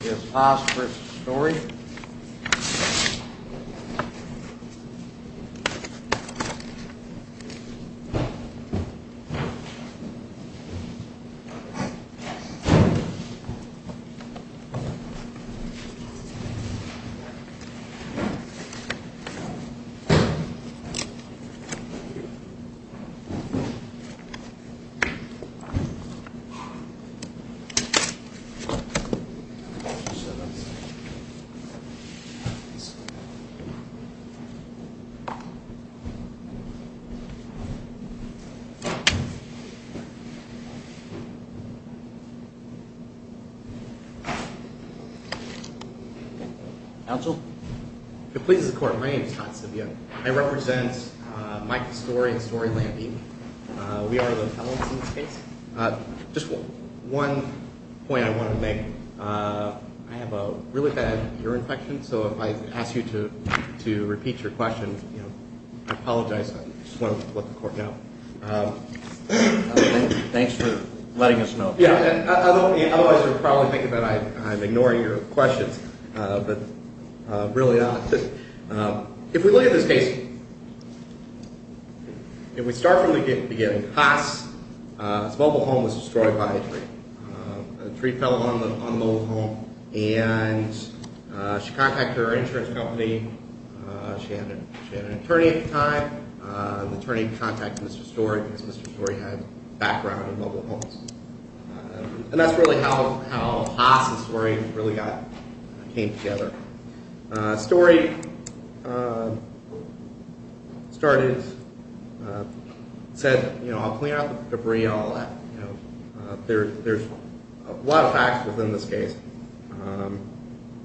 This is Haas v. Storey I'm going to show them something. Counsel? If it pleases the court, my name is Haas Sibyuk. I represent Mike Storey and Storey Lambie. We are the appellants in this case. Just one point I wanted to make. I have a really bad ear infection, so if I ask you to repeat your question, I apologize. I just wanted to let the court know. Thanks for letting us know. Yeah, otherwise you're probably thinking that I'm ignoring your questions, but really not. If we look at this case, if we start from the beginning, Haas' mobile home was destroyed by a tree. A tree fell on the mobile home and she contacted her insurance company. She had an attorney at the time. The attorney contacted Mr. Storey because Mr. Storey had background in mobile homes. And that's really how Haas and Storey really came together. Storey said, you know, I'll clean out the debris and all that. There's a lot of facts within this case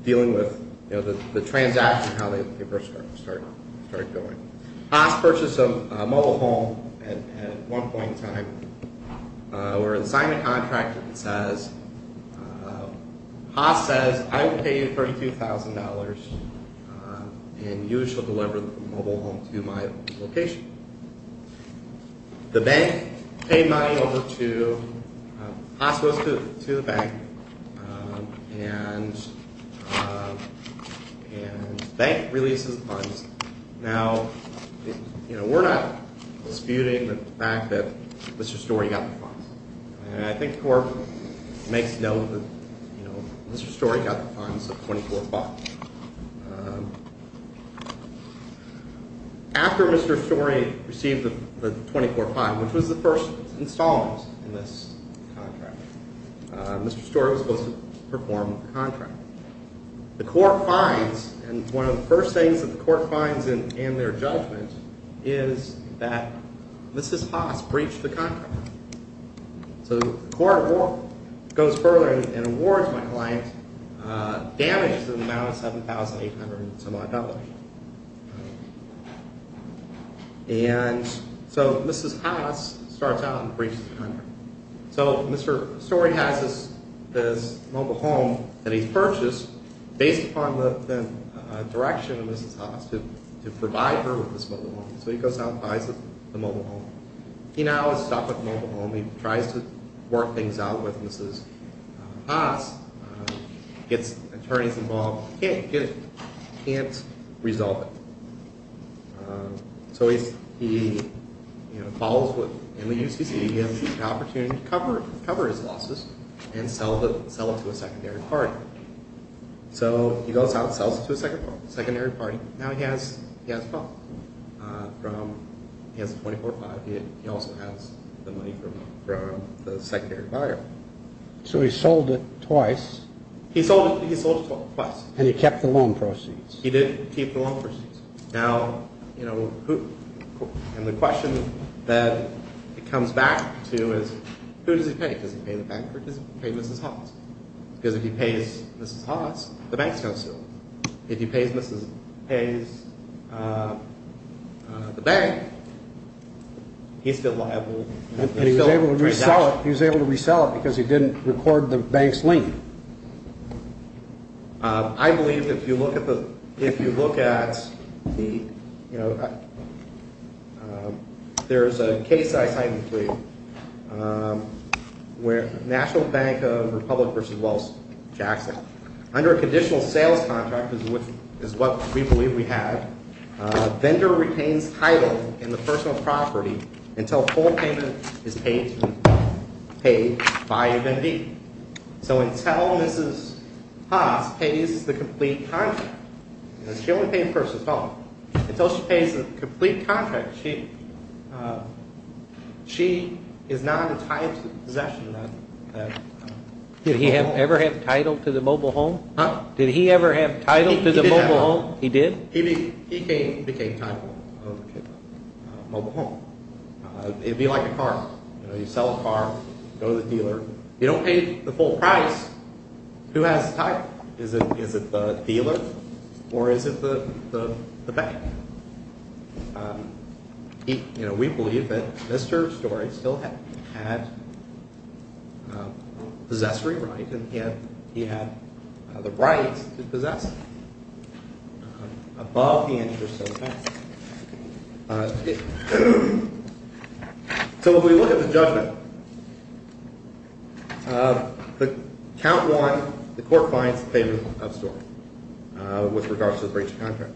dealing with the transaction and how they first started going. Haas purchased a mobile home at one point in time. Where they signed a contract that says, Haas says, I will pay you $32,000 and you shall deliver the mobile home to my location. The bank paid money over to, Haas goes to the bank, and the bank releases the funds. Now, you know, we're not disputing the fact that Mr. Storey got the funds. And I think the court makes it known that, you know, Mr. Storey got the funds of $24. After Mr. Storey received the $24 fine, which was the first installment in this contract, Mr. Storey was supposed to perform the contract. The court finds, and one of the first things that the court finds in their judgment is that Mrs. Haas breached the contract. So the court goes further and awards my client damages in the amount of $7,800 to my debtor. And so Mrs. Haas starts out and breaches the contract. So Mr. Storey has this mobile home that he purchased based upon the direction of Mrs. Haas to provide her with this mobile home. So he goes out and buys the mobile home. He now has stopped with the mobile home. He tries to work things out with Mrs. Haas, gets attorneys involved, can't get it, can't resolve it. So he follows what, in the UCC, he has the opportunity to cover his losses and sell it to a secondary party. So he goes out and sells it to a secondary party. Now he has a problem. He has the $24 fine. He also has the money from the secondary buyer. So he sold it twice. He sold it twice. And he kept the loan proceeds. He did keep the loan proceeds. Now, you know, and the question that it comes back to is who does he pay? Does he pay the bank or does he pay Mrs. Haas? Because if he pays Mrs. Haas, the bank's going to sue him. If he pays the bank, he's still liable. And he was able to resell it because he didn't record the bank's lien. I believe that if you look at the, if you look at the, you know, there's a case I signed with you where National Bank of Republic v. Wells, Jackson. Under a conditional sales contract, which is what we believe we have, a vendor retains title in the personal property until full payment is paid by a vendee. So until Mrs. Haas pays the complete contract, she only pays the personal property. Until she pays the complete contract, she is not entitled to possession of that mobile home. Did he ever have title to the mobile home? Huh? Did he ever have title to the mobile home? He did have title. He did? He became title of the mobile home. It would be like a car. You know, you sell a car, go to the dealer. You don't pay the full price. Who has title? Is it the dealer or is it the bank? You know, we believe that Mr. Story still had possessory right and he had the right to possess above the interest of the bank. So if we look at the judgment, count one, the court finds favor of Story with regards to the breach of contract.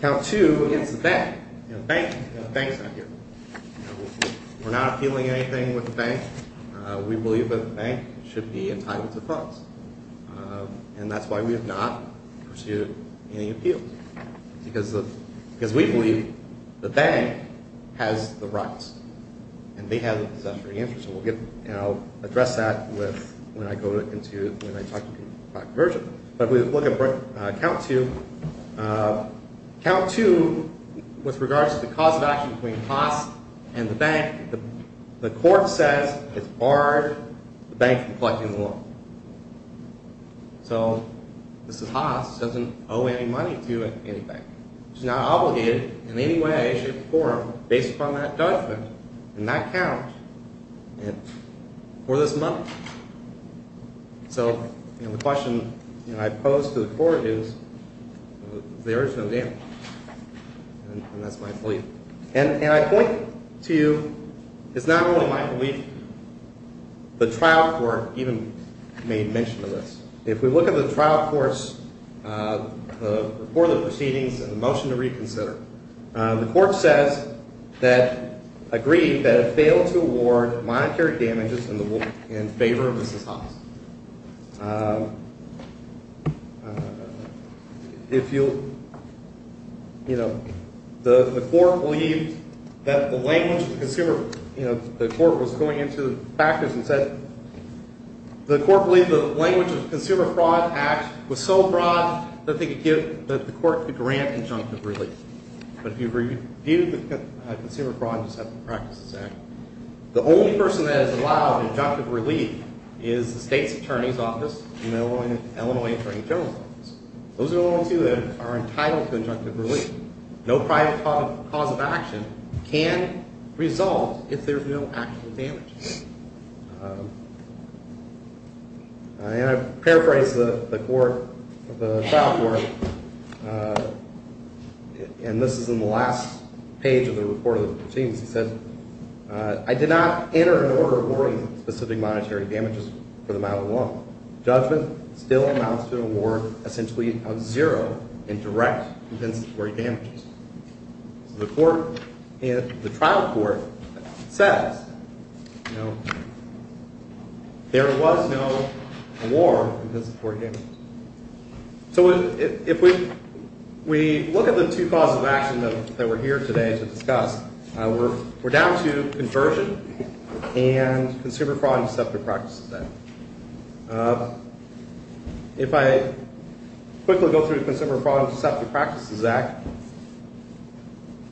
Count two, it's the bank. You know, the bank is not here. We're not appealing anything with the bank. We believe that the bank should be entitled to funds, and that's why we have not pursued any appeals. Because we believe the bank has the rights, and they have the possessory interest. And I'll address that when I go into, when I talk to you about conversion. But if we look at count two, count two with regards to the cause of action between Haas and the bank, the court says it's barred the bank from collecting the loan. So this is Haas, doesn't owe any money to any bank. He's not obligated in any way, shape, or form based upon that judgment and that count for this money. So the question I pose to the court is, is there is no damage? And that's my belief. And I point to you, it's not only my belief. The trial court even made mention of this. If we look at the trial court's report of proceedings and the motion to reconsider, the court says that, agreed that it failed to award monetary damages in favor of Mrs. Haas. If you'll, you know, the court believed that the language of the consumer, you know, the court was going into the practice and said, the court believed the language of the Consumer Fraud Act was so broad that they could give, that the court could grant injunctive relief. But if you review the Consumer Fraud and Deceptive Practices Act, the only person that is allowed injunctive relief is the state. The state's attorney's office and Illinois Attorney General's office. Those are the only two that are entitled to injunctive relief. No private cause of action can resolve if there's no actual damage. And I paraphrase the court, the trial court, and this is in the last page of the report of the proceedings. It says, I did not enter an order awarding specific monetary damages for the matter alone. Judgment still amounts to an award essentially of zero in direct compensatory damages. The court, the trial court says, you know, there was no award because of poor damage. So if we look at the two causes of action that we're here today to discuss, we're down to conversion and Consumer Fraud and Deceptive Practices Act. If I quickly go through the Consumer Fraud and Deceptive Practices Act,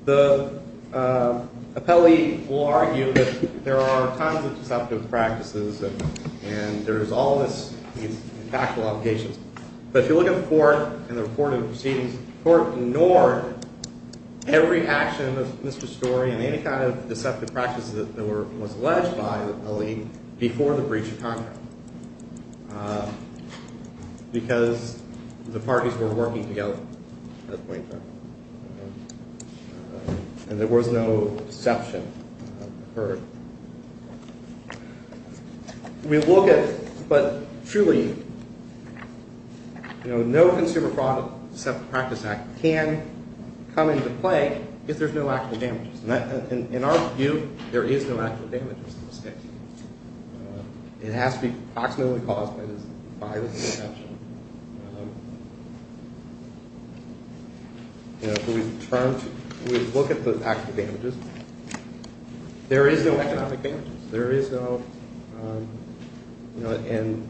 the appellee will argue that there are tons of deceptive practices and there's all these factual obligations. But if you look at the court and the report of the proceedings, the court ignored every action of Mr. Story and any kind of deceptive practices that was alleged by the appellee before the breach of contract because the parties were working together at that point in time. And there was no deception occurred. We look at, but truly, you know, no Consumer Fraud and Deceptive Practices Act can come into play if there's no actual damages. In our view, there is no actual damages in this case. It has to be approximately caused by the deception. You know, if we look at the actual damages, there is no economic damages. There is no, you know, and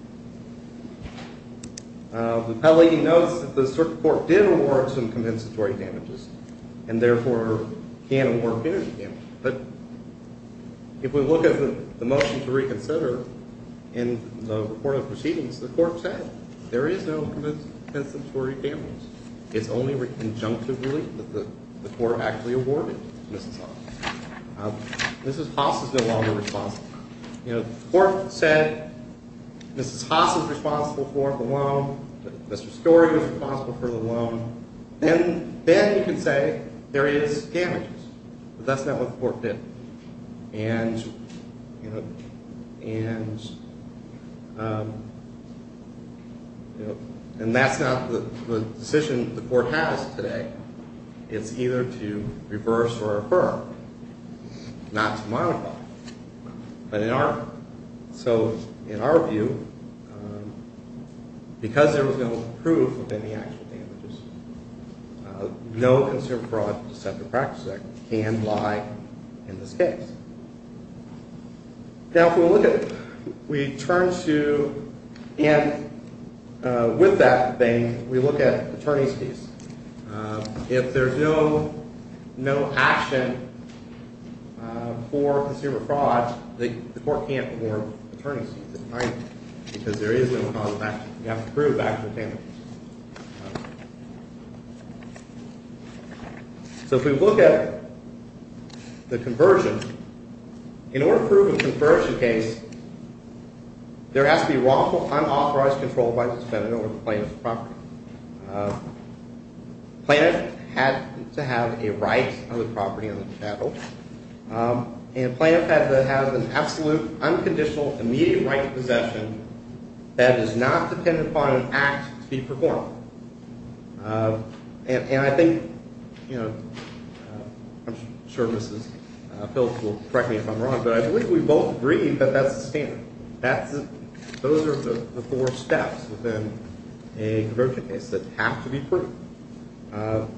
the appellee notes that the circuit court did award some compensatory damages and therefore can't award penalty damages. But if we look at the motion to reconsider in the report of the proceedings, the court said there is no compensatory damages. It's only conjunctively that the court actually awarded Mrs. Haas. Mrs. Haas is no longer responsible. You know, the court said Mrs. Haas is responsible for the loan. Mr. Story was responsible for the loan. Then you can say there is damages, but that's not what the court did. And, you know, and that's not the decision the court has today. It's either to reverse or affirm, not to modify. But in our, so in our view, because there was no proof of any actual damages, no consumer fraud deceptive practice act can lie in this case. Now, if we look at it, we turn to, and with that thing, we look at attorney's fees. If there's no action for consumer fraud, the court can't award attorney's fees. Because there is no cause of action. You have to prove actual damages. So if we look at the conversion, in order to prove a conversion case, there has to be wrongful, unauthorized control by the defendant over the plaintiff's property. The plaintiff had to have a right of the property on the chattel. And the plaintiff had to have an absolute, unconditional, immediate right of possession that does not depend upon an act to be performed. And I think, you know, I'm sure Mrs. Pills will correct me if I'm wrong, but I believe we both agree that that's the standard. Those are the four steps within a conversion case that have to be proven. Your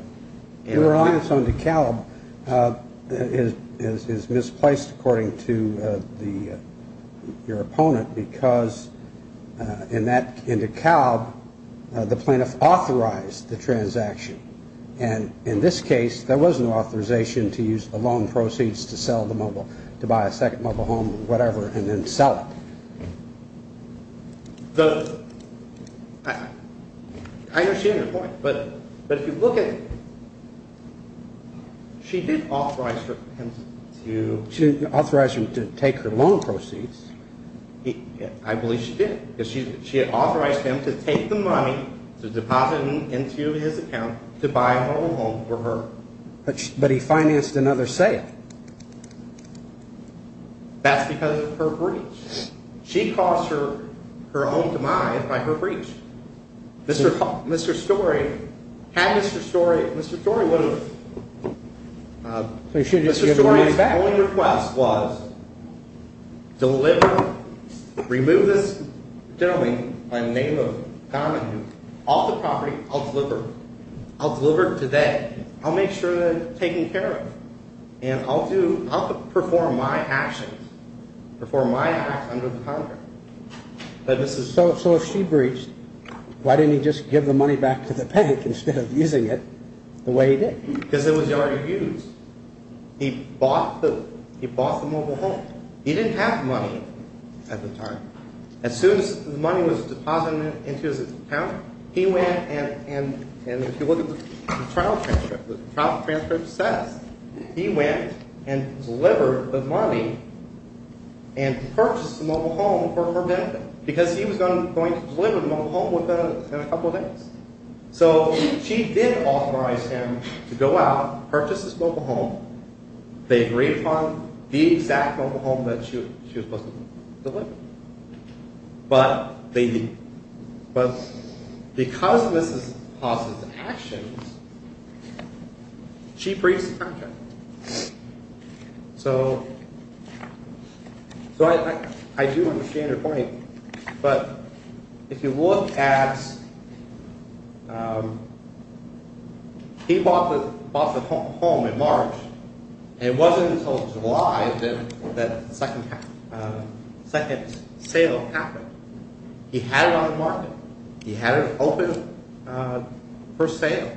reliance on DeKalb is misplaced according to your opponent, because in DeKalb, the plaintiff authorized the transaction. And in this case, there was an authorization to use the loan proceeds to sell the mobile, to buy a second mobile home or whatever, and then sell it. I understand your point, but if you look at it, she did authorize him to take her loan proceeds. I believe she did, because she authorized him to take the money, to deposit it into his account to buy a mobile home for her. But he financed another sale. That's because of her breach. She caused her own demise by her breach. Mr. Storey had Mr. Storey, Mr. Storey would have, Mr. Storey's only request was, deliver, remove this gentleman by the name of Donovan off the property, I'll deliver. I'll deliver today. I'll make sure they're taken care of. And I'll perform my actions, perform my acts under the contract. So if she breached, why didn't he just give the money back to the bank instead of using it the way he did? Because it was already used. He bought the mobile home. He didn't have the money at the time. As soon as the money was deposited into his account, and if you look at the trial transcript, the trial transcript says, he went and delivered the money and purchased the mobile home for her benefit, because he was going to deliver the mobile home within a couple of days. So she did authorize him to go out, purchase this mobile home. They agreed upon the exact mobile home that she was supposed to deliver. But because of Mrs. Haas's actions, she breached the contract. So I do understand her point. But if you look at, he bought the home in March. It wasn't until July that the second sale happened. He had it on the market. He had it open for sale.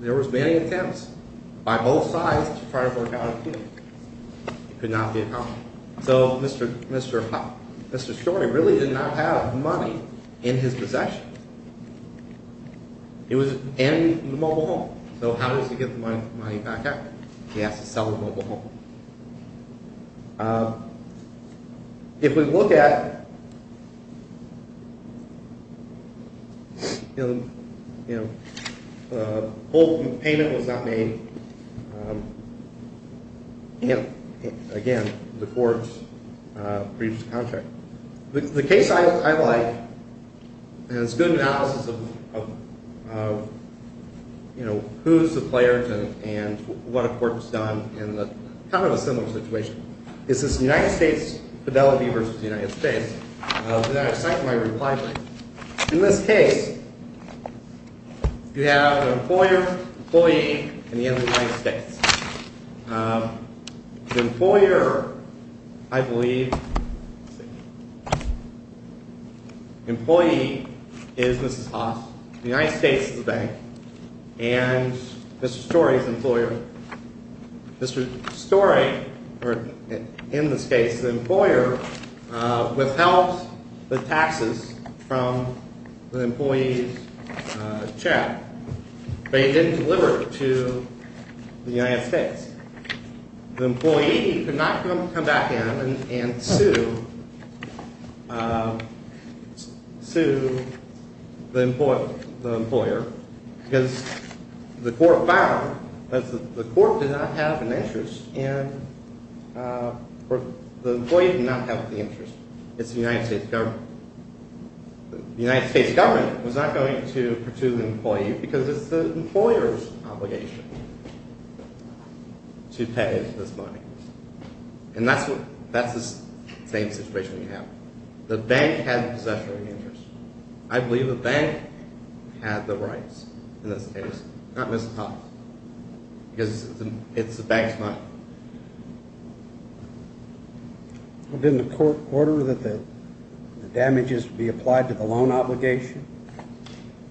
There was many attempts by both sides to try to work out a deal. It could not be accomplished. So Mr. Shorty really did not have money in his possession. It was an enemy of the mobile home. So how does he get the money back? He has to sell the mobile home. If we look at, the whole payment was not made. Again, the courts breached the contract. The case I like, and it's a good analysis of who's the players and what a court has done in kind of a similar situation, is this United States Fidelity versus the United States. And I cite my reply to it. In this case, you have an employer, employee, and the end of the United States. The employer, I believe, employee is Mrs. Haas, United States Bank, and Mr. Shorty is the employer. Mr. Shorty, or in this case, the employer, withheld the taxes from the employee's check. But he didn't deliver it to the United States. The employee could not come back in and sue the employer because the court found that the court did not have an interest and the employee did not have the interest. It's the United States government. The United States government was not going to pursue the employee because it's the employer's obligation to pay this money. And that's the same situation we have. The bank has possession of the interest. I believe the bank had the rights in this case, not Mrs. Haas, because it's the bank's money. Didn't the court order that the damages be applied to the loan obligation,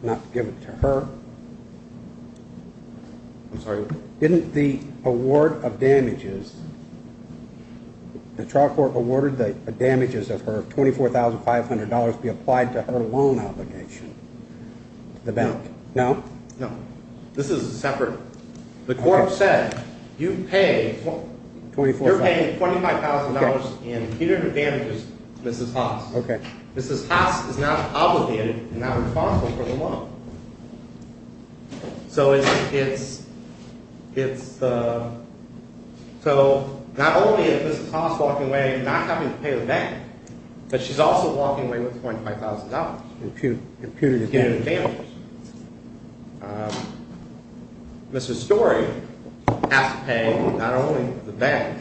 not give it to her? I'm sorry? Didn't the award of damages, the trial court awarded the damages of her $24,500 be applied to her loan obligation to the bank? No. No? No. This is separate. The court said you're paying $25,000 in punitive damages to Mrs. Haas. Mrs. Haas is now obligated and now responsible for the loan. So not only is Mrs. Haas walking away not having to pay the bank, but she's also walking away with $25,000 in punitive damages. Mrs. Story has to pay not only the bank,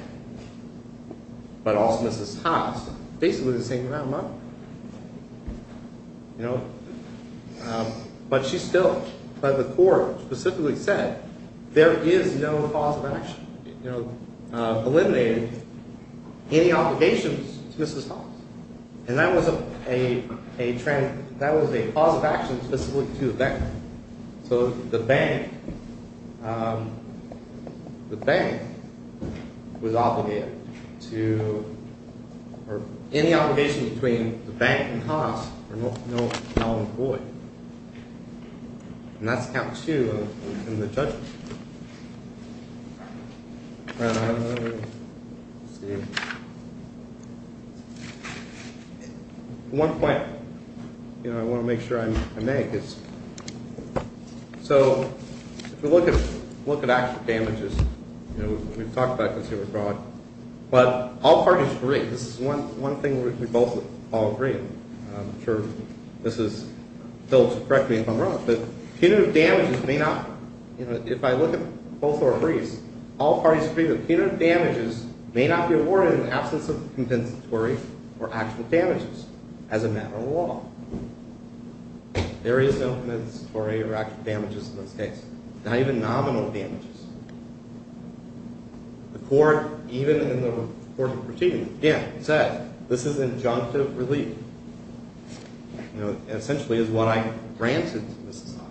but also Mrs. Haas, basically the same amount of money. But she still, the court specifically said, there is no cause of action, eliminating any obligations to Mrs. Haas. And that was a cause of action specifically to the bank. So the bank, the bank was obligated to, or any obligation between the bank and Haas are now employed. And that's count two in the judgment. One point I want to make sure I make is, so if we look at actual damages, we've talked about consumer fraud, but all parties agree, this is one thing we both all agree on. I'm sure this is, Phil will correct me if I'm wrong, but punitive damages may not, if I look at both our briefs, all parties agree that punitive damages may not be awarded in the absence of compensatory or actual damages as a matter of law. There is no compensatory or actual damages in this case. Not even nominal damages. The court, even in the court of proceedings, again, said, this is injunctive relief. It essentially is what I granted to Mrs. Haas.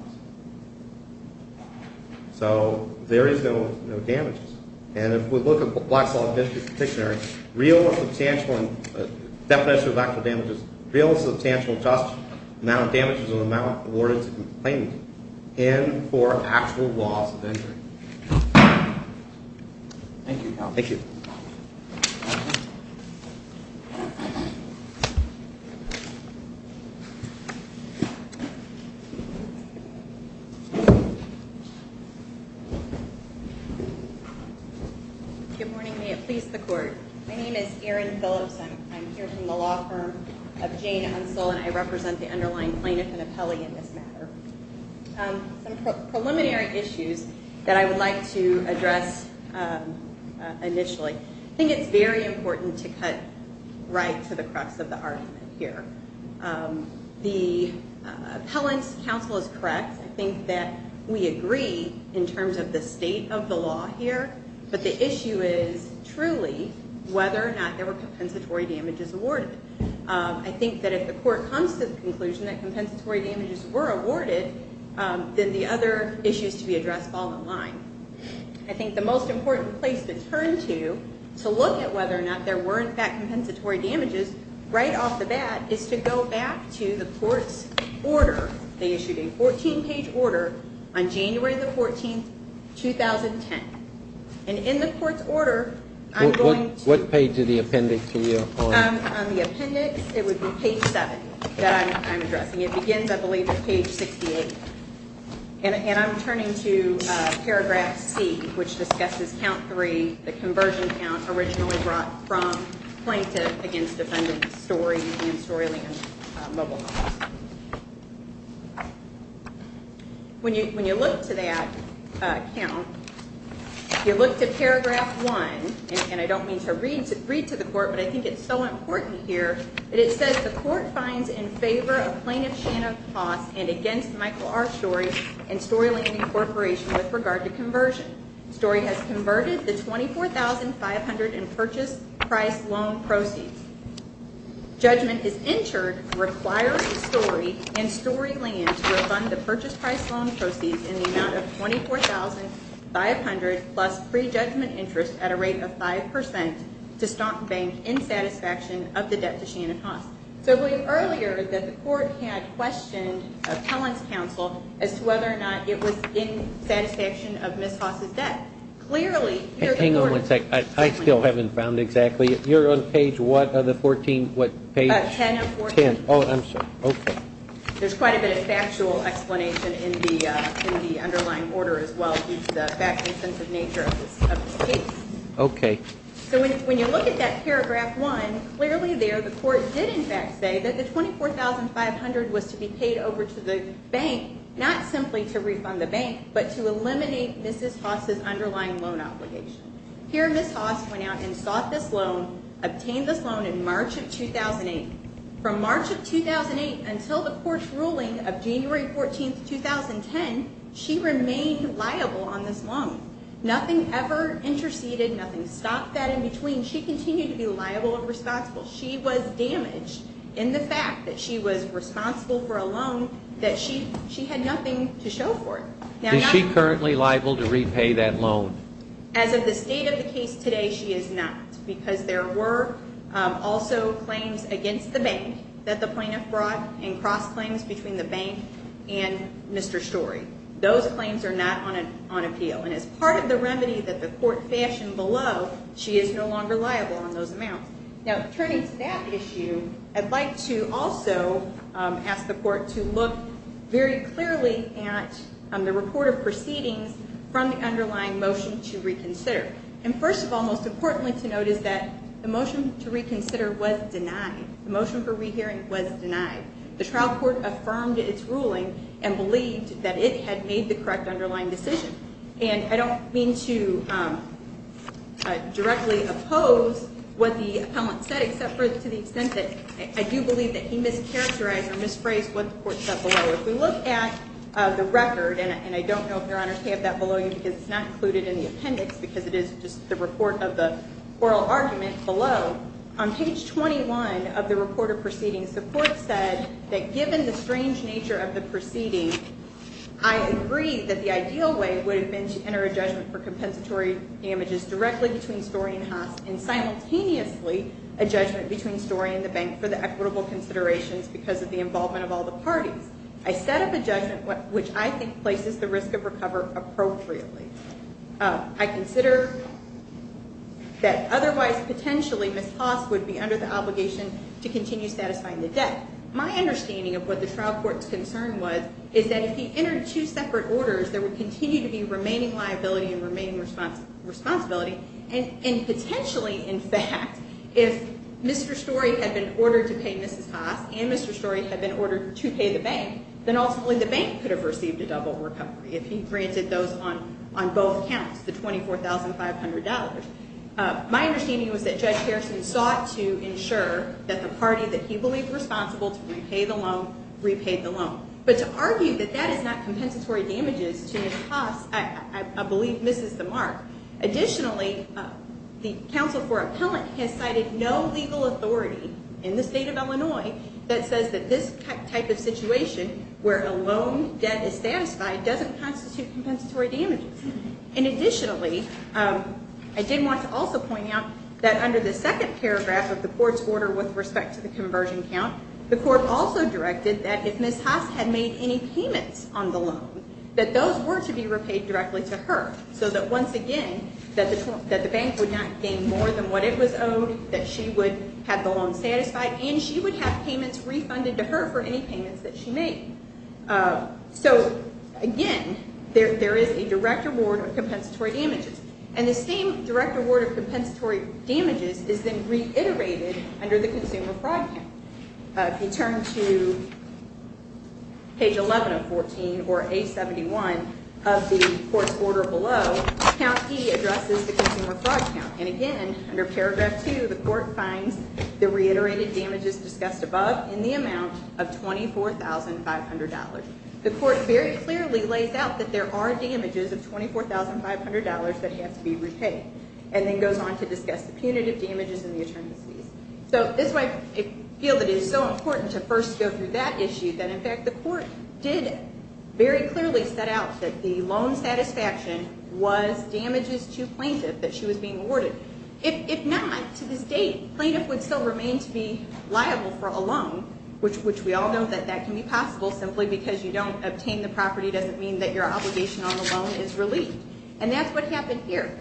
So there is no damages. And if we look at black solid dictionary, real substantial, and definition of actual damages, real substantial, just amount of damages and amount awarded to complainant and for actual loss of injury. Thank you. Thank you. Good morning, may it please the court. My name is Erin Phillips. I'm here from the law firm of Jane Unsell, and I represent the underlying plaintiff and appellee in this matter. Some preliminary issues that I would like to address initially. I think it's very important to cut right to the crux of the argument here. The appellant's counsel is correct. I think that we agree in terms of the state of the law here, but the issue is truly whether or not there were compensatory damages awarded. I think that if the court comes to the conclusion that compensatory damages were awarded, then the other issues to be addressed fall in line. I think the most important place to turn to, to look at whether or not there were in fact compensatory damages, right off the bat, is to go back to the court's order. They issued a 14-page order on January the 14th, 2010. And in the court's order, I'm going to What page of the appendix are you on? On the appendix, it would be page 7 that I'm addressing. It begins, I believe, at page 68. And I'm turning to paragraph C, which discusses count 3, the conversion count originally brought from plaintiff against defendant, Story, and Storyland Mobile Homes. When you look to that count, you look to paragraph 1, and I don't mean to read to the court, but I think it's so important here, that it says, The court finds in favor of plaintiff Shannon Hoss and against Michael R. Story and Storyland Incorporation with regard to conversion. Story has converted the $24,500 in purchase price loan proceeds. Judgment is entered requiring Story and Storyland to refund the purchase price loan proceeds in the amount of $24,500 plus pre-judgment interest at a rate of 5% to Stock Bank in satisfaction of the debt to Shannon Hoss. So I believe earlier that the court had questioned appellant's counsel as to whether or not it was in satisfaction of Ms. Hoss' debt. Hang on one second. I still haven't found exactly. You're on page what of the 14, what page? 10 of 14. Oh, I'm sorry. Okay. There's quite a bit of factual explanation in the underlying order as well, due to the fact and sense of nature of this case. So when you look at that paragraph 1, clearly there the court did, in fact, say that the $24,500 was to be paid over to the bank, not simply to refund the bank, but to eliminate Ms. Hoss' underlying loan obligation. Here Ms. Hoss went out and sought this loan, obtained this loan in March of 2008. From March of 2008 until the court's ruling of January 14, 2010, she remained liable on this loan. Nothing ever interceded. Nothing stopped that in between. She continued to be liable and responsible. She was damaged in the fact that she was responsible for a loan that she had nothing to show for it. Is she currently liable to repay that loan? As of the state of the case today, she is not, because there were also claims against the bank that the plaintiff brought and cross-claims between the bank and Mr. Story. Those claims are not on appeal, and as part of the remedy that the court fashioned below, she is no longer liable on those amounts. Now, turning to that issue, I'd like to also ask the court to look very clearly at the report of proceedings from the underlying motion to reconsider. First of all, most importantly to note is that the motion to reconsider was denied. The motion for rehearing was denied. The trial court affirmed its ruling and believed that it had made the correct underlying decision. And I don't mean to directly oppose what the appellant said, except to the extent that I do believe that he mischaracterized or misphrased what the court said below. If we look at the record, and I don't know if Your Honors have that below you because it's not included in the appendix because it is just the report of the oral argument below, on page 21 of the report of proceedings, the court said that given the strange nature of the proceedings, I agree that the ideal way would have been to enter a judgment for compensatory damages directly between Story and Haas and simultaneously a judgment between Story and the bank for the equitable considerations because of the involvement of all the parties. I set up a judgment which I think places the risk of recover appropriately. I consider that otherwise potentially Ms. Haas would be under the obligation to continue satisfying the debt. My understanding of what the trial court's concern was is that if he entered two separate orders, there would continue to be remaining liability and remaining responsibility, and potentially, in fact, if Mr. Story had been ordered to pay Mrs. Haas and Mr. Story had been ordered to pay the bank, then ultimately the bank could have received a double recovery if he granted those on both counts, the $24,500. My understanding was that Judge Harrison sought to ensure But to argue that that is not compensatory damages to Ms. Haas, I believe, misses the mark. Additionally, the counsel for appellant has cited no legal authority in the state of Illinois that says that this type of situation where a loan debt is satisfied doesn't constitute compensatory damages. And additionally, I did want to also point out that under the second paragraph of the court's order with respect to the conversion count, the court also directed that if Ms. Haas had made any payments on the loan, that those were to be repaid directly to her, so that once again that the bank would not gain more than what it was owed, that she would have the loan satisfied, and she would have payments refunded to her for any payments that she made. So again, there is a direct reward of compensatory damages. And the same direct reward of compensatory damages is then reiterated under the consumer fraud count. If you turn to page 11 of 14 or A71 of the court's order below, count E addresses the consumer fraud count. And again, under paragraph 2, the court finds the reiterated damages discussed above in the amount of $24,500. The court very clearly lays out that there are damages of $24,500 that have to be repaid, and then goes on to discuss the punitive damages and the attorneys' fees. So this is why I feel that it is so important to first go through that issue, that in fact the court did very clearly set out that the loan satisfaction was damages to plaintiff that she was being awarded. If not, to this date, plaintiff would still remain to be liable for a loan, which we all know that that can be possible simply because you don't obtain the property doesn't mean that your obligation on the loan is relieved. And that's what happened here.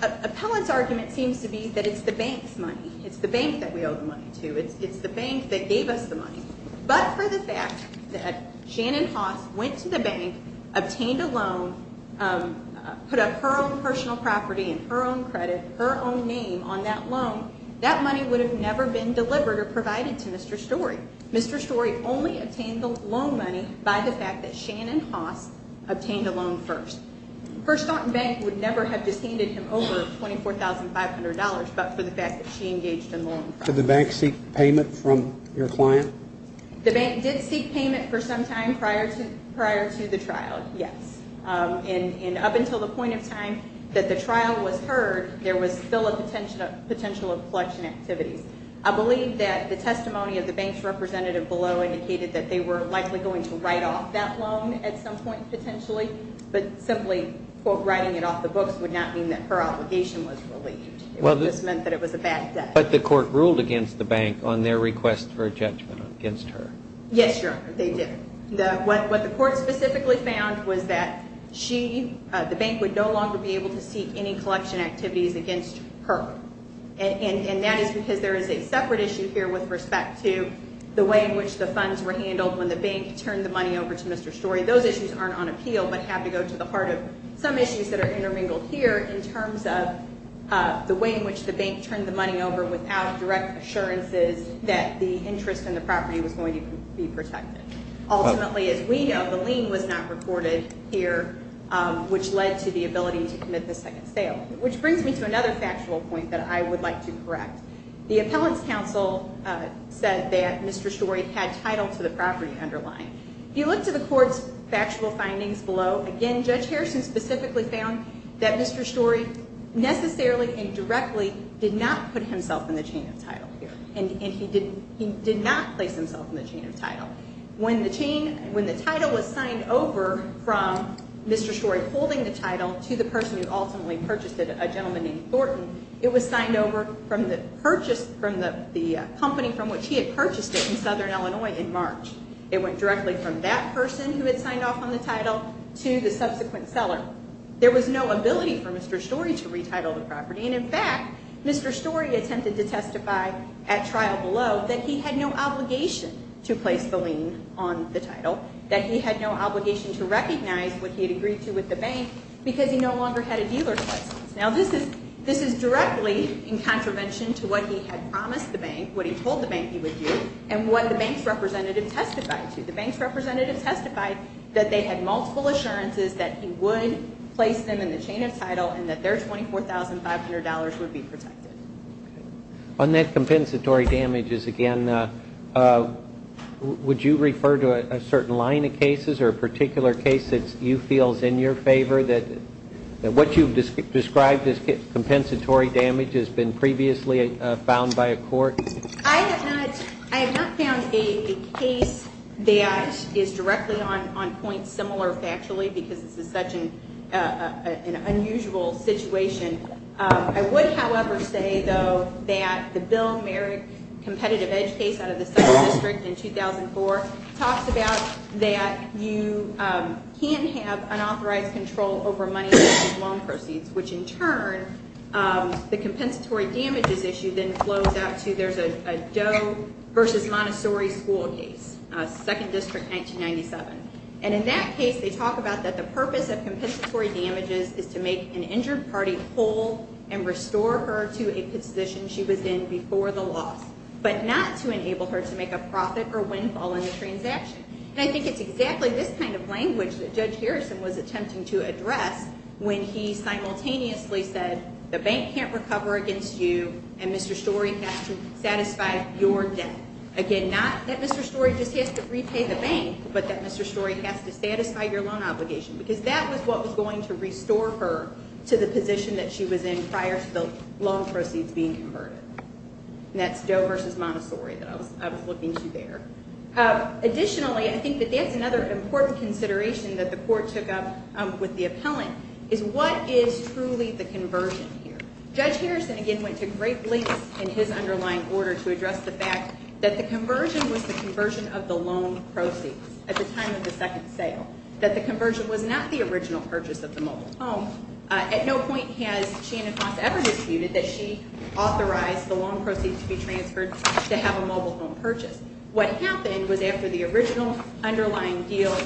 Appellant's argument seems to be that it's the bank's money. It's the bank that we owe the money to. It's the bank that gave us the money. But for the fact that Shannon Haas went to the bank, obtained a loan, put up her own personal property and her own credit, her own name on that loan, that money would have never been delivered or provided to Mr. Story. Mr. Story only obtained the loan money by the fact that Shannon Haas obtained the loan first. First Staunton Bank would never have distended him over $24,500 but for the fact that she engaged in the loan process. Did the bank seek payment from your client? The bank did seek payment for some time prior to the trial, yes. And up until the point of time that the trial was heard, there was still a potential of collection activities. I believe that the testimony of the bank's representative below indicated that they were likely going to write off that loan at some point potentially, but simply writing it off the books would not mean that her obligation was relieved. It just meant that it was a bad day. But the court ruled against the bank on their request for a judgment against her. Yes, Your Honor, they did. What the court specifically found was that she, the bank, would no longer be able to seek any collection activities against her. And that is because there is a separate issue here with respect to the way in which the funds were handled when the bank turned the money over to Mr. Story. Those issues aren't on appeal but have to go to the heart of some issues that are intermingled here in terms of the way in which the bank turned the money over without direct assurances that the interest in the property was going to be protected. Ultimately, as we know, the lien was not recorded here, which led to the ability to commit the second sale. Which brings me to another factual point that I would like to correct. The appellant's counsel said that Mr. Story had title to the property underlying. If you look to the court's factual findings below, again, Judge Harrison specifically found that Mr. Story necessarily and directly did not put himself in the chain of title here. And he did not place himself in the chain of title. When the title was signed over from Mr. Story holding the title to the person who ultimately purchased it, a gentleman named Thornton, it was signed over from the company from which he had purchased it in Southern Illinois in March. It went directly from that person who had signed off on the title to the subsequent seller. There was no ability for Mr. Story to retitle the property. And, in fact, Mr. Story attempted to testify at trial below that he had no obligation to place the lien on the title, that he had no obligation to recognize what he had agreed to with the bank because he no longer had a dealer's license. Now, this is directly in contravention to what he had promised the bank, what he told the bank he would do, and what the bank's representative testified to. The bank's representative testified that they had multiple assurances that he would place them in the chain of title and that their $24,500 would be protected. On that compensatory damages, again, would you refer to a certain line of cases or a particular case that you feel is in your favor, that what you've described as compensatory damage has been previously found by a court? I have not found a case that is directly on point, similar factually, because this is such an unusual situation. I would, however, say, though, that the Bill Merrick competitive edge case out of the 7th District in 2004 talks about that you can have unauthorized control over money-backed loan proceeds, which in turn, the compensatory damages issue then flows out to there's a Doe versus Montessori school case, 2nd District, 1997. And in that case, they talk about that the purpose of compensatory damages is to make an injured party whole and restore her to a position she was in before the loss, but not to enable her to make a profit or windfall in the transaction. And I think it's exactly this kind of language that Judge Harrison was attempting to address when he simultaneously said the bank can't recover against you and Mr. Storey has to satisfy your debt. Again, not that Mr. Storey just has to repay the bank, but that Mr. Storey has to satisfy your loan obligation because that was what was going to restore her to the position that she was in prior to the loan proceeds being converted. And that's Doe versus Montessori that I was looking to there. Additionally, I think that that's another important consideration that the court took up with the appellant, is what is truly the conversion here? Judge Harrison, again, went to great lengths in his underlying order to address the fact that the conversion was the conversion of the loan proceeds at the time of the second sale, that the conversion was not the original purchase of the mobile home. At no point has Shannon Fonts ever disputed that she authorized the loan proceeds to be transferred to have a mobile home purchase. What happened was after the original underlying deal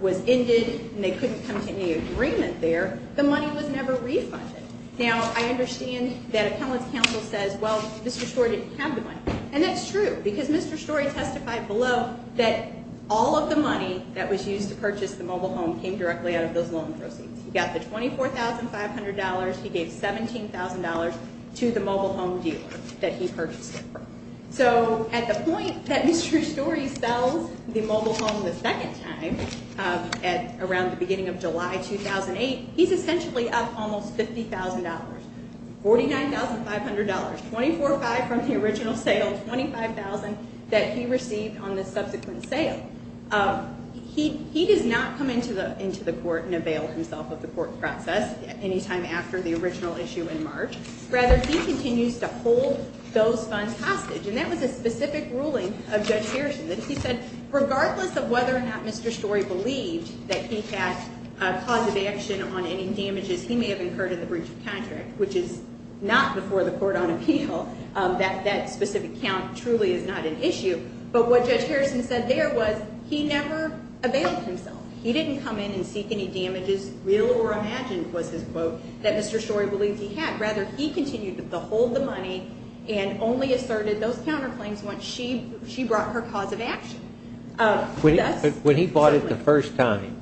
was ended and they couldn't come to any agreement there, the money was never refunded. Now, I understand that appellant's counsel says, well, Mr. Storey didn't have the money. And that's true because Mr. Storey testified below that all of the money that was used to purchase the mobile home came directly out of those loan proceeds. He got the $24,500. He gave $17,000 to the mobile home dealer that he purchased it from. So at the point that Mr. Storey sells the mobile home the second time around the beginning of July 2008, he's essentially up almost $50,000, $49,500, $24,500 from the original sale, $25,000 that he received on the subsequent sale. He does not come into the court and avail himself of the court process any time after the original issue in March. Rather, he continues to hold those funds hostage. And that was a specific ruling of Judge Harrison that he said, regardless of whether or not Mr. Storey believed that he had a cause of action on any damages he may have incurred in the breach of contract, which is not before the court on appeal, that specific count truly is not an issue. But what Judge Harrison said there was he never availed himself. He didn't come in and seek any damages, real or imagined was his quote, that Mr. Storey believed he had. Rather, he continued to hold the money and only asserted those counterclaims once she brought her cause of action. When he bought it the first time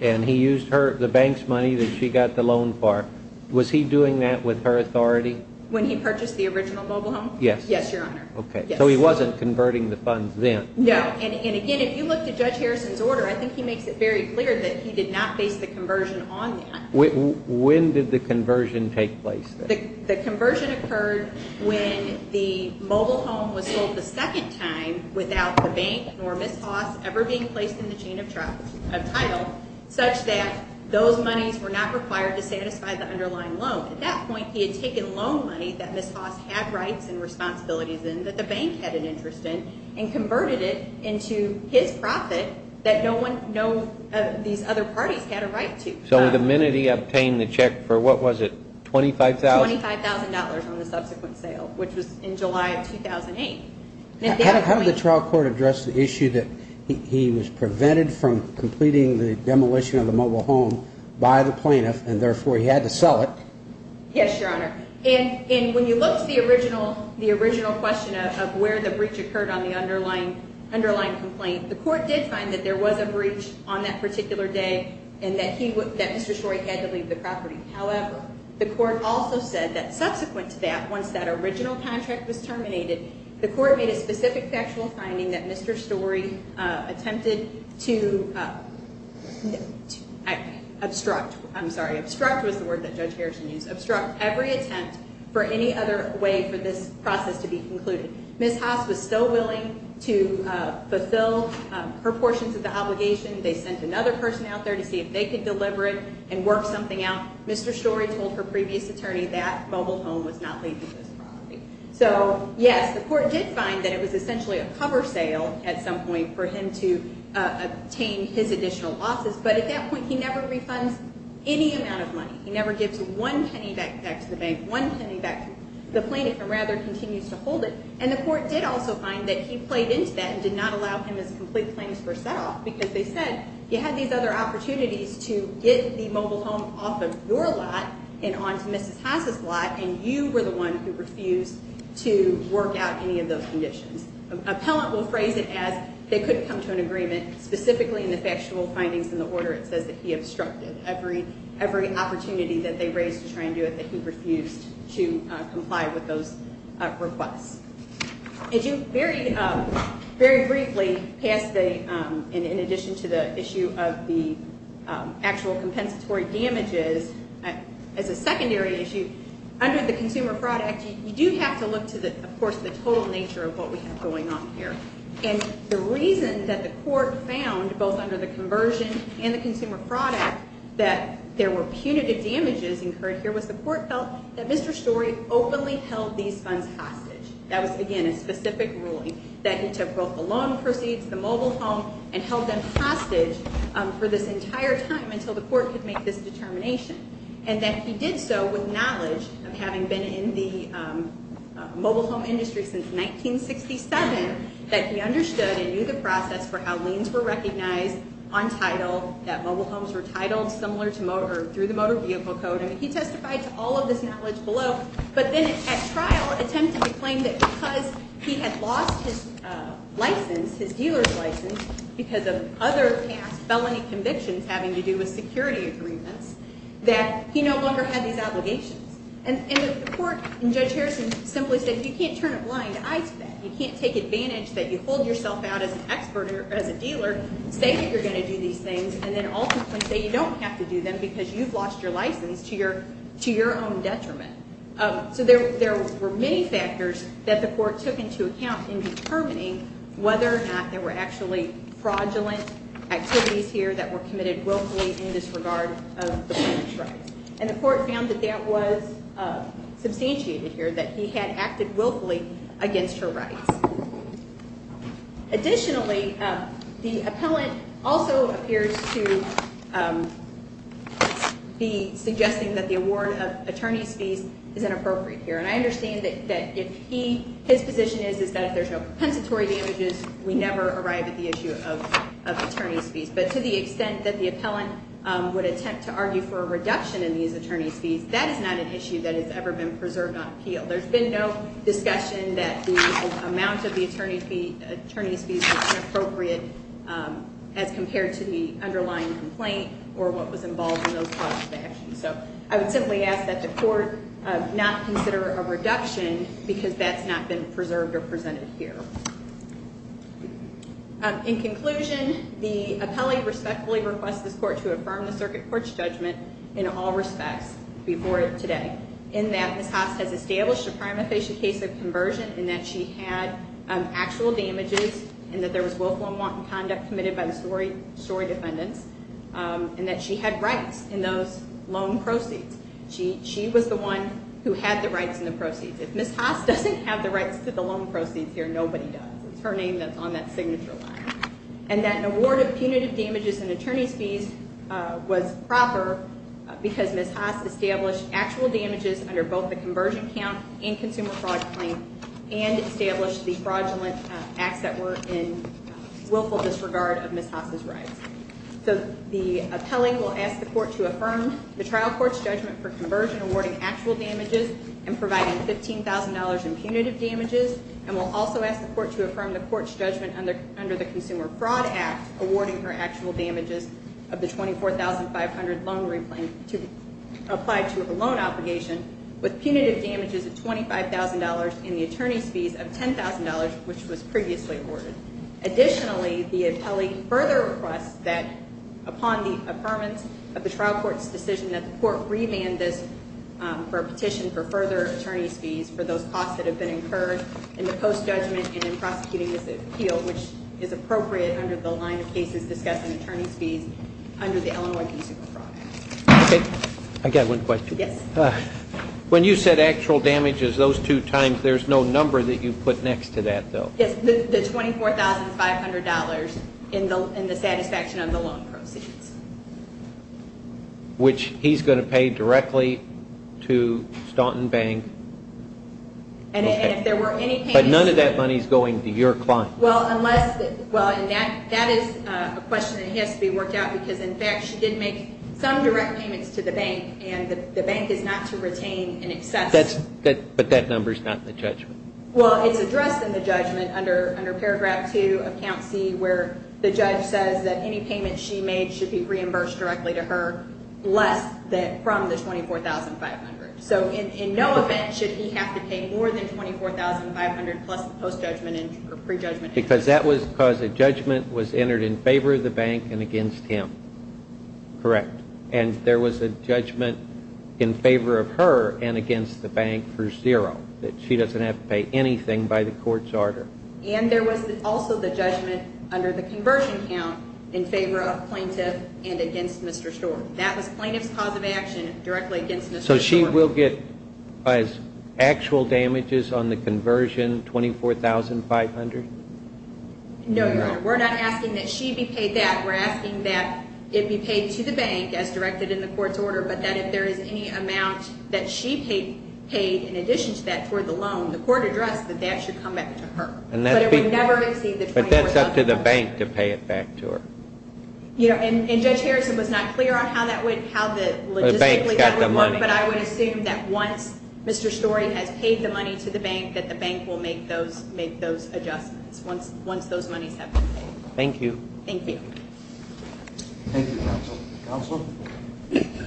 and he used the bank's money that she got the loan for, was he doing that with her authority? When he purchased the original mobile home? Yes. Yes, Your Honor. Okay. So he wasn't converting the funds then? No. And again, if you look at Judge Harrison's order, I think he makes it very clear that he did not base the conversion on that. When did the conversion take place? The conversion occurred when the mobile home was sold the second time without the bank or Ms. Haas ever being placed in the chain of title such that those monies were not required to satisfy the underlying loan. At that point, he had taken loan money that Ms. Haas had rights and responsibilities in, that the bank had an interest in, and converted it into his profit that no one, these other parties had a right to. So the minute he obtained the check for what was it, $25,000? $25,000 on the subsequent sale, which was in July of 2008. How did the trial court address the issue that he was prevented from completing the demolition of the mobile home by the plaintiff and therefore he had to sell it? Yes, Your Honor. And when you look at the original question of where the breach occurred on the underlying complaint, the court did find that there was a breach on that particular day and that Mr. Story had to leave the property. However, the court also said that subsequent to that, once that original contract was terminated, the court made a specific factual finding that Mr. Story attempted to obstruct, I'm sorry, obstruct was the word that Judge Harrison used, obstruct every attempt for any other way for this process to be concluded. Ms. Haas was still willing to fulfill her portions of the obligation. They sent another person out there to see if they could deliver it and work something out. Mr. Story told her previous attorney that mobile home was not leaving this property. So, yes, the court did find that it was essentially a cover sale at some point for him to obtain his additional losses. But at that point, he never refunds any amount of money. He never gives one penny back to the bank, one penny back to the plaintiff and rather continues to hold it. And the court did also find that he played into that and did not allow him his complete plaintiff's first set off because they said you had these other opportunities to get the mobile home off of your lot and onto Mrs. Haas' lot and you were the one who refused to work out any of those conditions. Appellant will phrase it as they couldn't come to an agreement, specifically in the factual findings in the order it says that he obstructed every opportunity that they raised to try and do it, that he refused to comply with those requests. Very briefly, in addition to the issue of the actual compensatory damages, as a secondary issue, under the Consumer Fraud Act, you do have to look to, of course, the total nature of what we have going on here. And the reason that the court found, both under the conversion and the Consumer Fraud Act, that there were punitive damages incurred here was the court felt that Mr. Story openly held these funds hostage. That was, again, a specific ruling, that he took both the loan proceeds, the mobile home, and held them hostage for this entire time until the court could make this determination. And that he did so with knowledge of having been in the mobile home industry since 1967, that he understood and knew the process for how liens were recognized on title, that mobile homes were titled similar to motor through the Motor Vehicle Code. He testified to all of this knowledge below. But then at trial, attempted to claim that because he had lost his license, his dealer's license, because of other past felony convictions having to do with security agreements, that he no longer had these obligations. And the court in Judge Harrison simply said you can't turn a blind eye to that. You can't take advantage that you hold yourself out as an expert or as a dealer, say that you're going to do these things, and then ultimately say you don't have to do them because you've lost your license to your own detriment. So there were many factors that the court took into account in determining whether or not there were actually fraudulent activities here that were committed willfully in disregard of the plaintiff's rights. And the court found that that was substantiated here, that he had acted willfully against her rights. Additionally, the appellant also appears to be suggesting that the award of attorney's fees is inappropriate here. And I understand that his position is that if there's no compensatory damages, we never arrive at the issue of attorney's fees. But to the extent that the appellant would attempt to argue for a reduction in these attorney's fees, that is not an issue that has ever been preserved on appeal. There's been no discussion that the amount of the attorney's fees is inappropriate as compared to the underlying complaint or what was involved in those clauses of action. So I would simply ask that the court not consider a reduction because that's not been preserved or presented here. In conclusion, the appellee respectfully requests this court to affirm the circuit court's judgment in all respects before today in that Ms. Haas has established a prima facie case of conversion in that she had actual damages and that there was willful and wanton conduct committed by the story defendants and that she had rights in those loan proceeds. She was the one who had the rights in the proceeds. If Ms. Haas doesn't have the rights to the loan proceeds here, nobody does. It's her name that's on that signature line. And that an award of punitive damages and attorney's fees was proper because Ms. Haas established actual damages under both the conversion count and consumer fraud claim and established the fraudulent acts that were in willful disregard of Ms. Haas' rights. So the appellee will ask the court to affirm the trial court's judgment for conversion, awarding actual damages and providing $15,000 in punitive damages, and will also ask the court to affirm the court's judgment under the Consumer Fraud Act, awarding her actual damages of the $24,500 loan replaint applied to her loan obligation with punitive damages of $25,000 and the attorney's fees of $10,000, which was previously awarded. Additionally, the appellee further requests that upon the affirmance of the trial court's decision that the court remand this for a petition for further attorney's fees for those costs that have been incurred in the post-judgment and in prosecuting this appeal, which is appropriate under the line of cases discussing attorney's fees under the Illinois Consumer Fraud Act. Okay. I've got one question. Yes. When you said actual damages those two times, there's no number that you put next to that, though. Yes, the $24,500 in the satisfaction of the loan proceeds. Which he's going to pay directly to Staunton Bank. Okay. And if there were any payments to the bank. But none of that money is going to your client. Well, unless, well, and that is a question that has to be worked out because, in fact, she did make some direct payments to the bank, and the bank is not to retain in excess. But that number is not in the judgment. Well, it's addressed in the judgment under Paragraph 2 of Count C, where the judge says that any payment she made should be reimbursed directly to her less from the $24,500. So in no event should he have to pay more than $24,500 plus the post-judgment and pre-judgment. Because that was because a judgment was entered in favor of the bank and against him. Correct. And there was a judgment in favor of her and against the bank for zero, that she doesn't have to pay anything by the court's order. And there was also the judgment under the conversion count in favor of plaintiff and against Mr. Stork. That was plaintiff's cause of action directly against Mr. Stork. So she will get actual damages on the conversion, $24,500? No, Your Honor. We're not asking that she be paid that. We're asking that it be paid to the bank as directed in the court's order, but that if there is any amount that she paid in addition to that toward the loan, the court addressed that that should come back to her. But it would never exceed the $24,500. But that's up to the bank to pay it back to her. And Judge Harrison was not clear on how that would, how the logistically that would work, but I would assume that once Mr. Stork has paid the money to the bank, that the bank will make those adjustments once those monies have been paid. Thank you. Thank you. Thank you, counsel. Counsel? Thank you.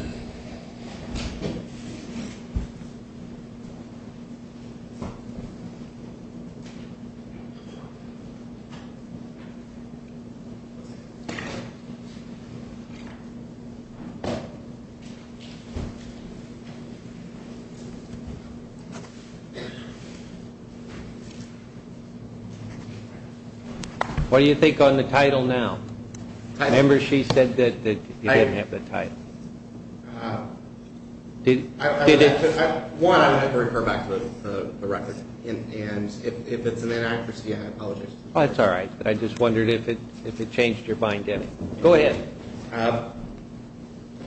What do you think on the title now? I remember she said that you didn't have the title. Did it? One, I would have to refer back to the record. And if it's an inaccuracy, I apologize. That's all right. I just wondered if it changed your mind. Go ahead.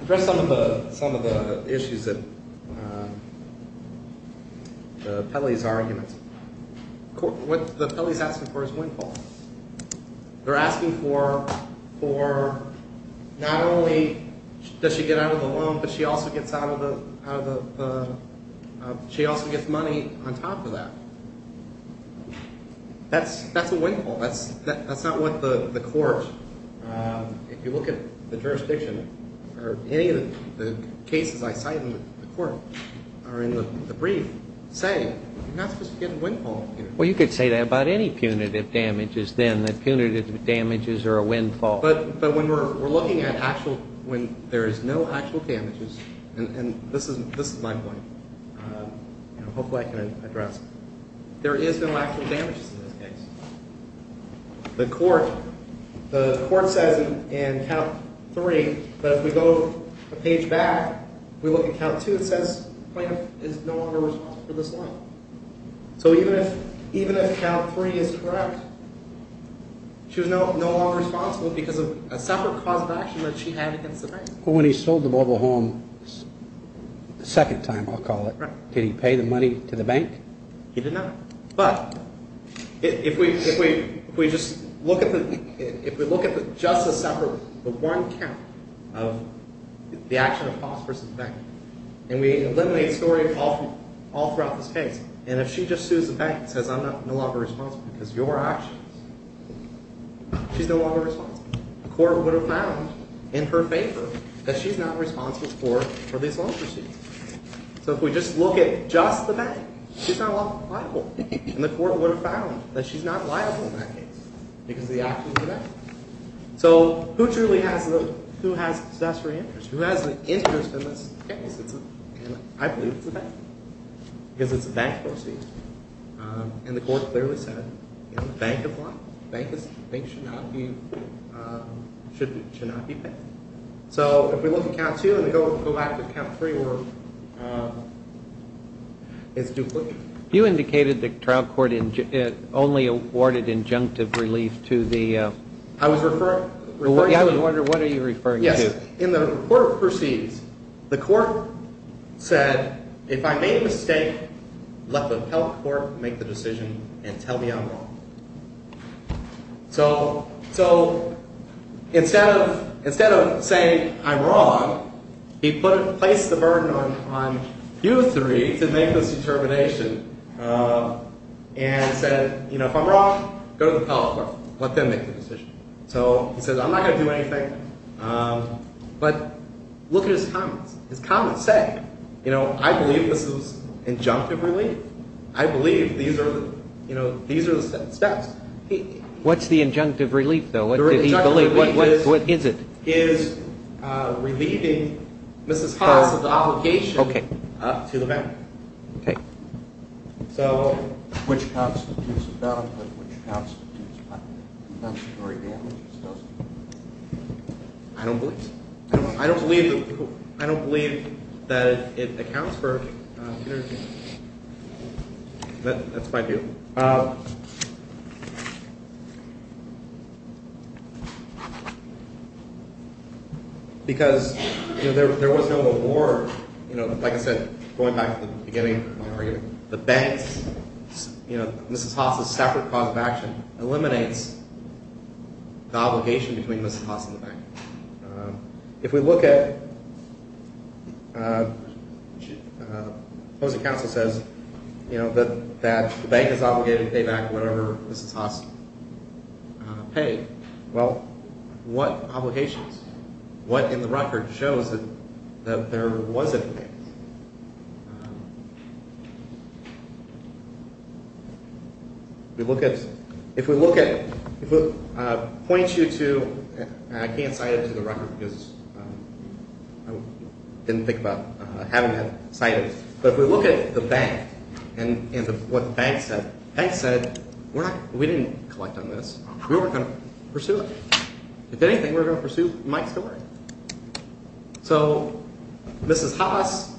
Address some of the issues that the Pelley's argument. What the Pelley's asking for is windfall. They're asking for not only does she get out of the loan, but she also gets money on top of that. That's a windfall. That's not what the court, if you look at the jurisdiction, or any of the cases I cite in the court or in the brief, say. You're not supposed to get windfall. Well, you could say that about any punitive damages then, that punitive damages are a windfall. But when we're looking at actual, when there is no actual damages, and this is my point. Hopefully I can address it. There is no actual damages in this case. The court says in count three that if we go a page back, we look at count two, it says plaintiff is no longer responsible for this loan. So even if count three is correct, she was no longer responsible because of a separate cause of action that she had against the bank. When he sold the mobile home the second time, I'll call it, did he pay the money to the bank? He did not. But if we just look at the, if we look at just the separate, the one count of the action of cause versus effect, and we eliminate the story all throughout this case. And if she just sues the bank and says I'm no longer responsible because of your actions, she's no longer responsible. The court would have found in her favor that she's not responsible for these loan proceeds. So if we just look at just the bank, she's not liable. And the court would have found that she's not liable in that case because of the actions of the bank. So who truly has the, who has the necessary interest? Who has the interest in this case? And I believe it's the bank because it's a bank proceed. And the court clearly said in the bank of law, banks should not be, should not be paid. So if we look at count two and go back to count three where it's duplicated. You indicated the trial court only awarded injunctive relief to the. I was referring to. I was wondering what are you referring to? Yes. In the report of proceeds, the court said if I made a mistake, let the appellate court make the decision and tell me I'm wrong. So, so instead of, instead of saying I'm wrong, he put, placed the burden on, on you three to make this determination and said, you know, if I'm wrong, go to the appellate court. Let them make the decision. So he says, I'm not going to do anything. But look at his comments. His comments say, you know, I believe this is injunctive relief. I believe these are, you know, these are the steps. What's the injunctive relief, though? What did he believe? What is it? Is relieving Mrs. Haas of the obligation to the bank. Okay. So which constitutes a bond and which constitutes a conductory damage? I don't believe so. That's my view. Because, you know, there was no award, you know, like I said, going back to the beginning of my argument, the banks, you know, Mrs. Haas' separate cause of action eliminates the obligation between Mrs. Haas and the bank. If we look at, opposing counsel says, you know, that the bank is obligated to pay back whatever Mrs. Haas paid. Well, what obligations? What in the record shows that there was a demand? We look at, if we look at, if it points you to, and I can't cite it to the record because I didn't think about having that cited. But if we look at the bank and what the bank said, the bank said, we're not, we didn't collect on this. We weren't going to pursue it. If anything, we were going to pursue Mike's story. So Mrs. Haas,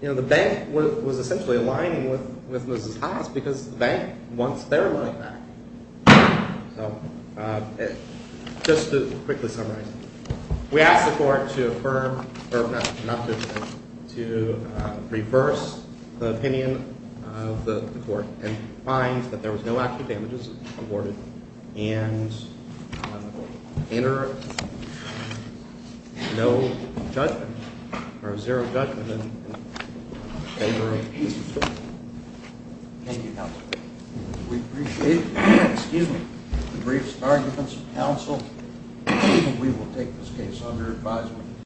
you know, the bank was essentially aligning with Mrs. Haas because the bank wants their money back. So just to quickly summarize, we asked the court to affirm, or not to affirm, to reverse the opinion of the court and find that there was no actual damages awarded and enter no judgment or zero judgment in favor of Mrs. Haas. Thank you, counsel. We appreciate it. Excuse me. The briefs, arguments, and counsel, and we will take this case under advisement.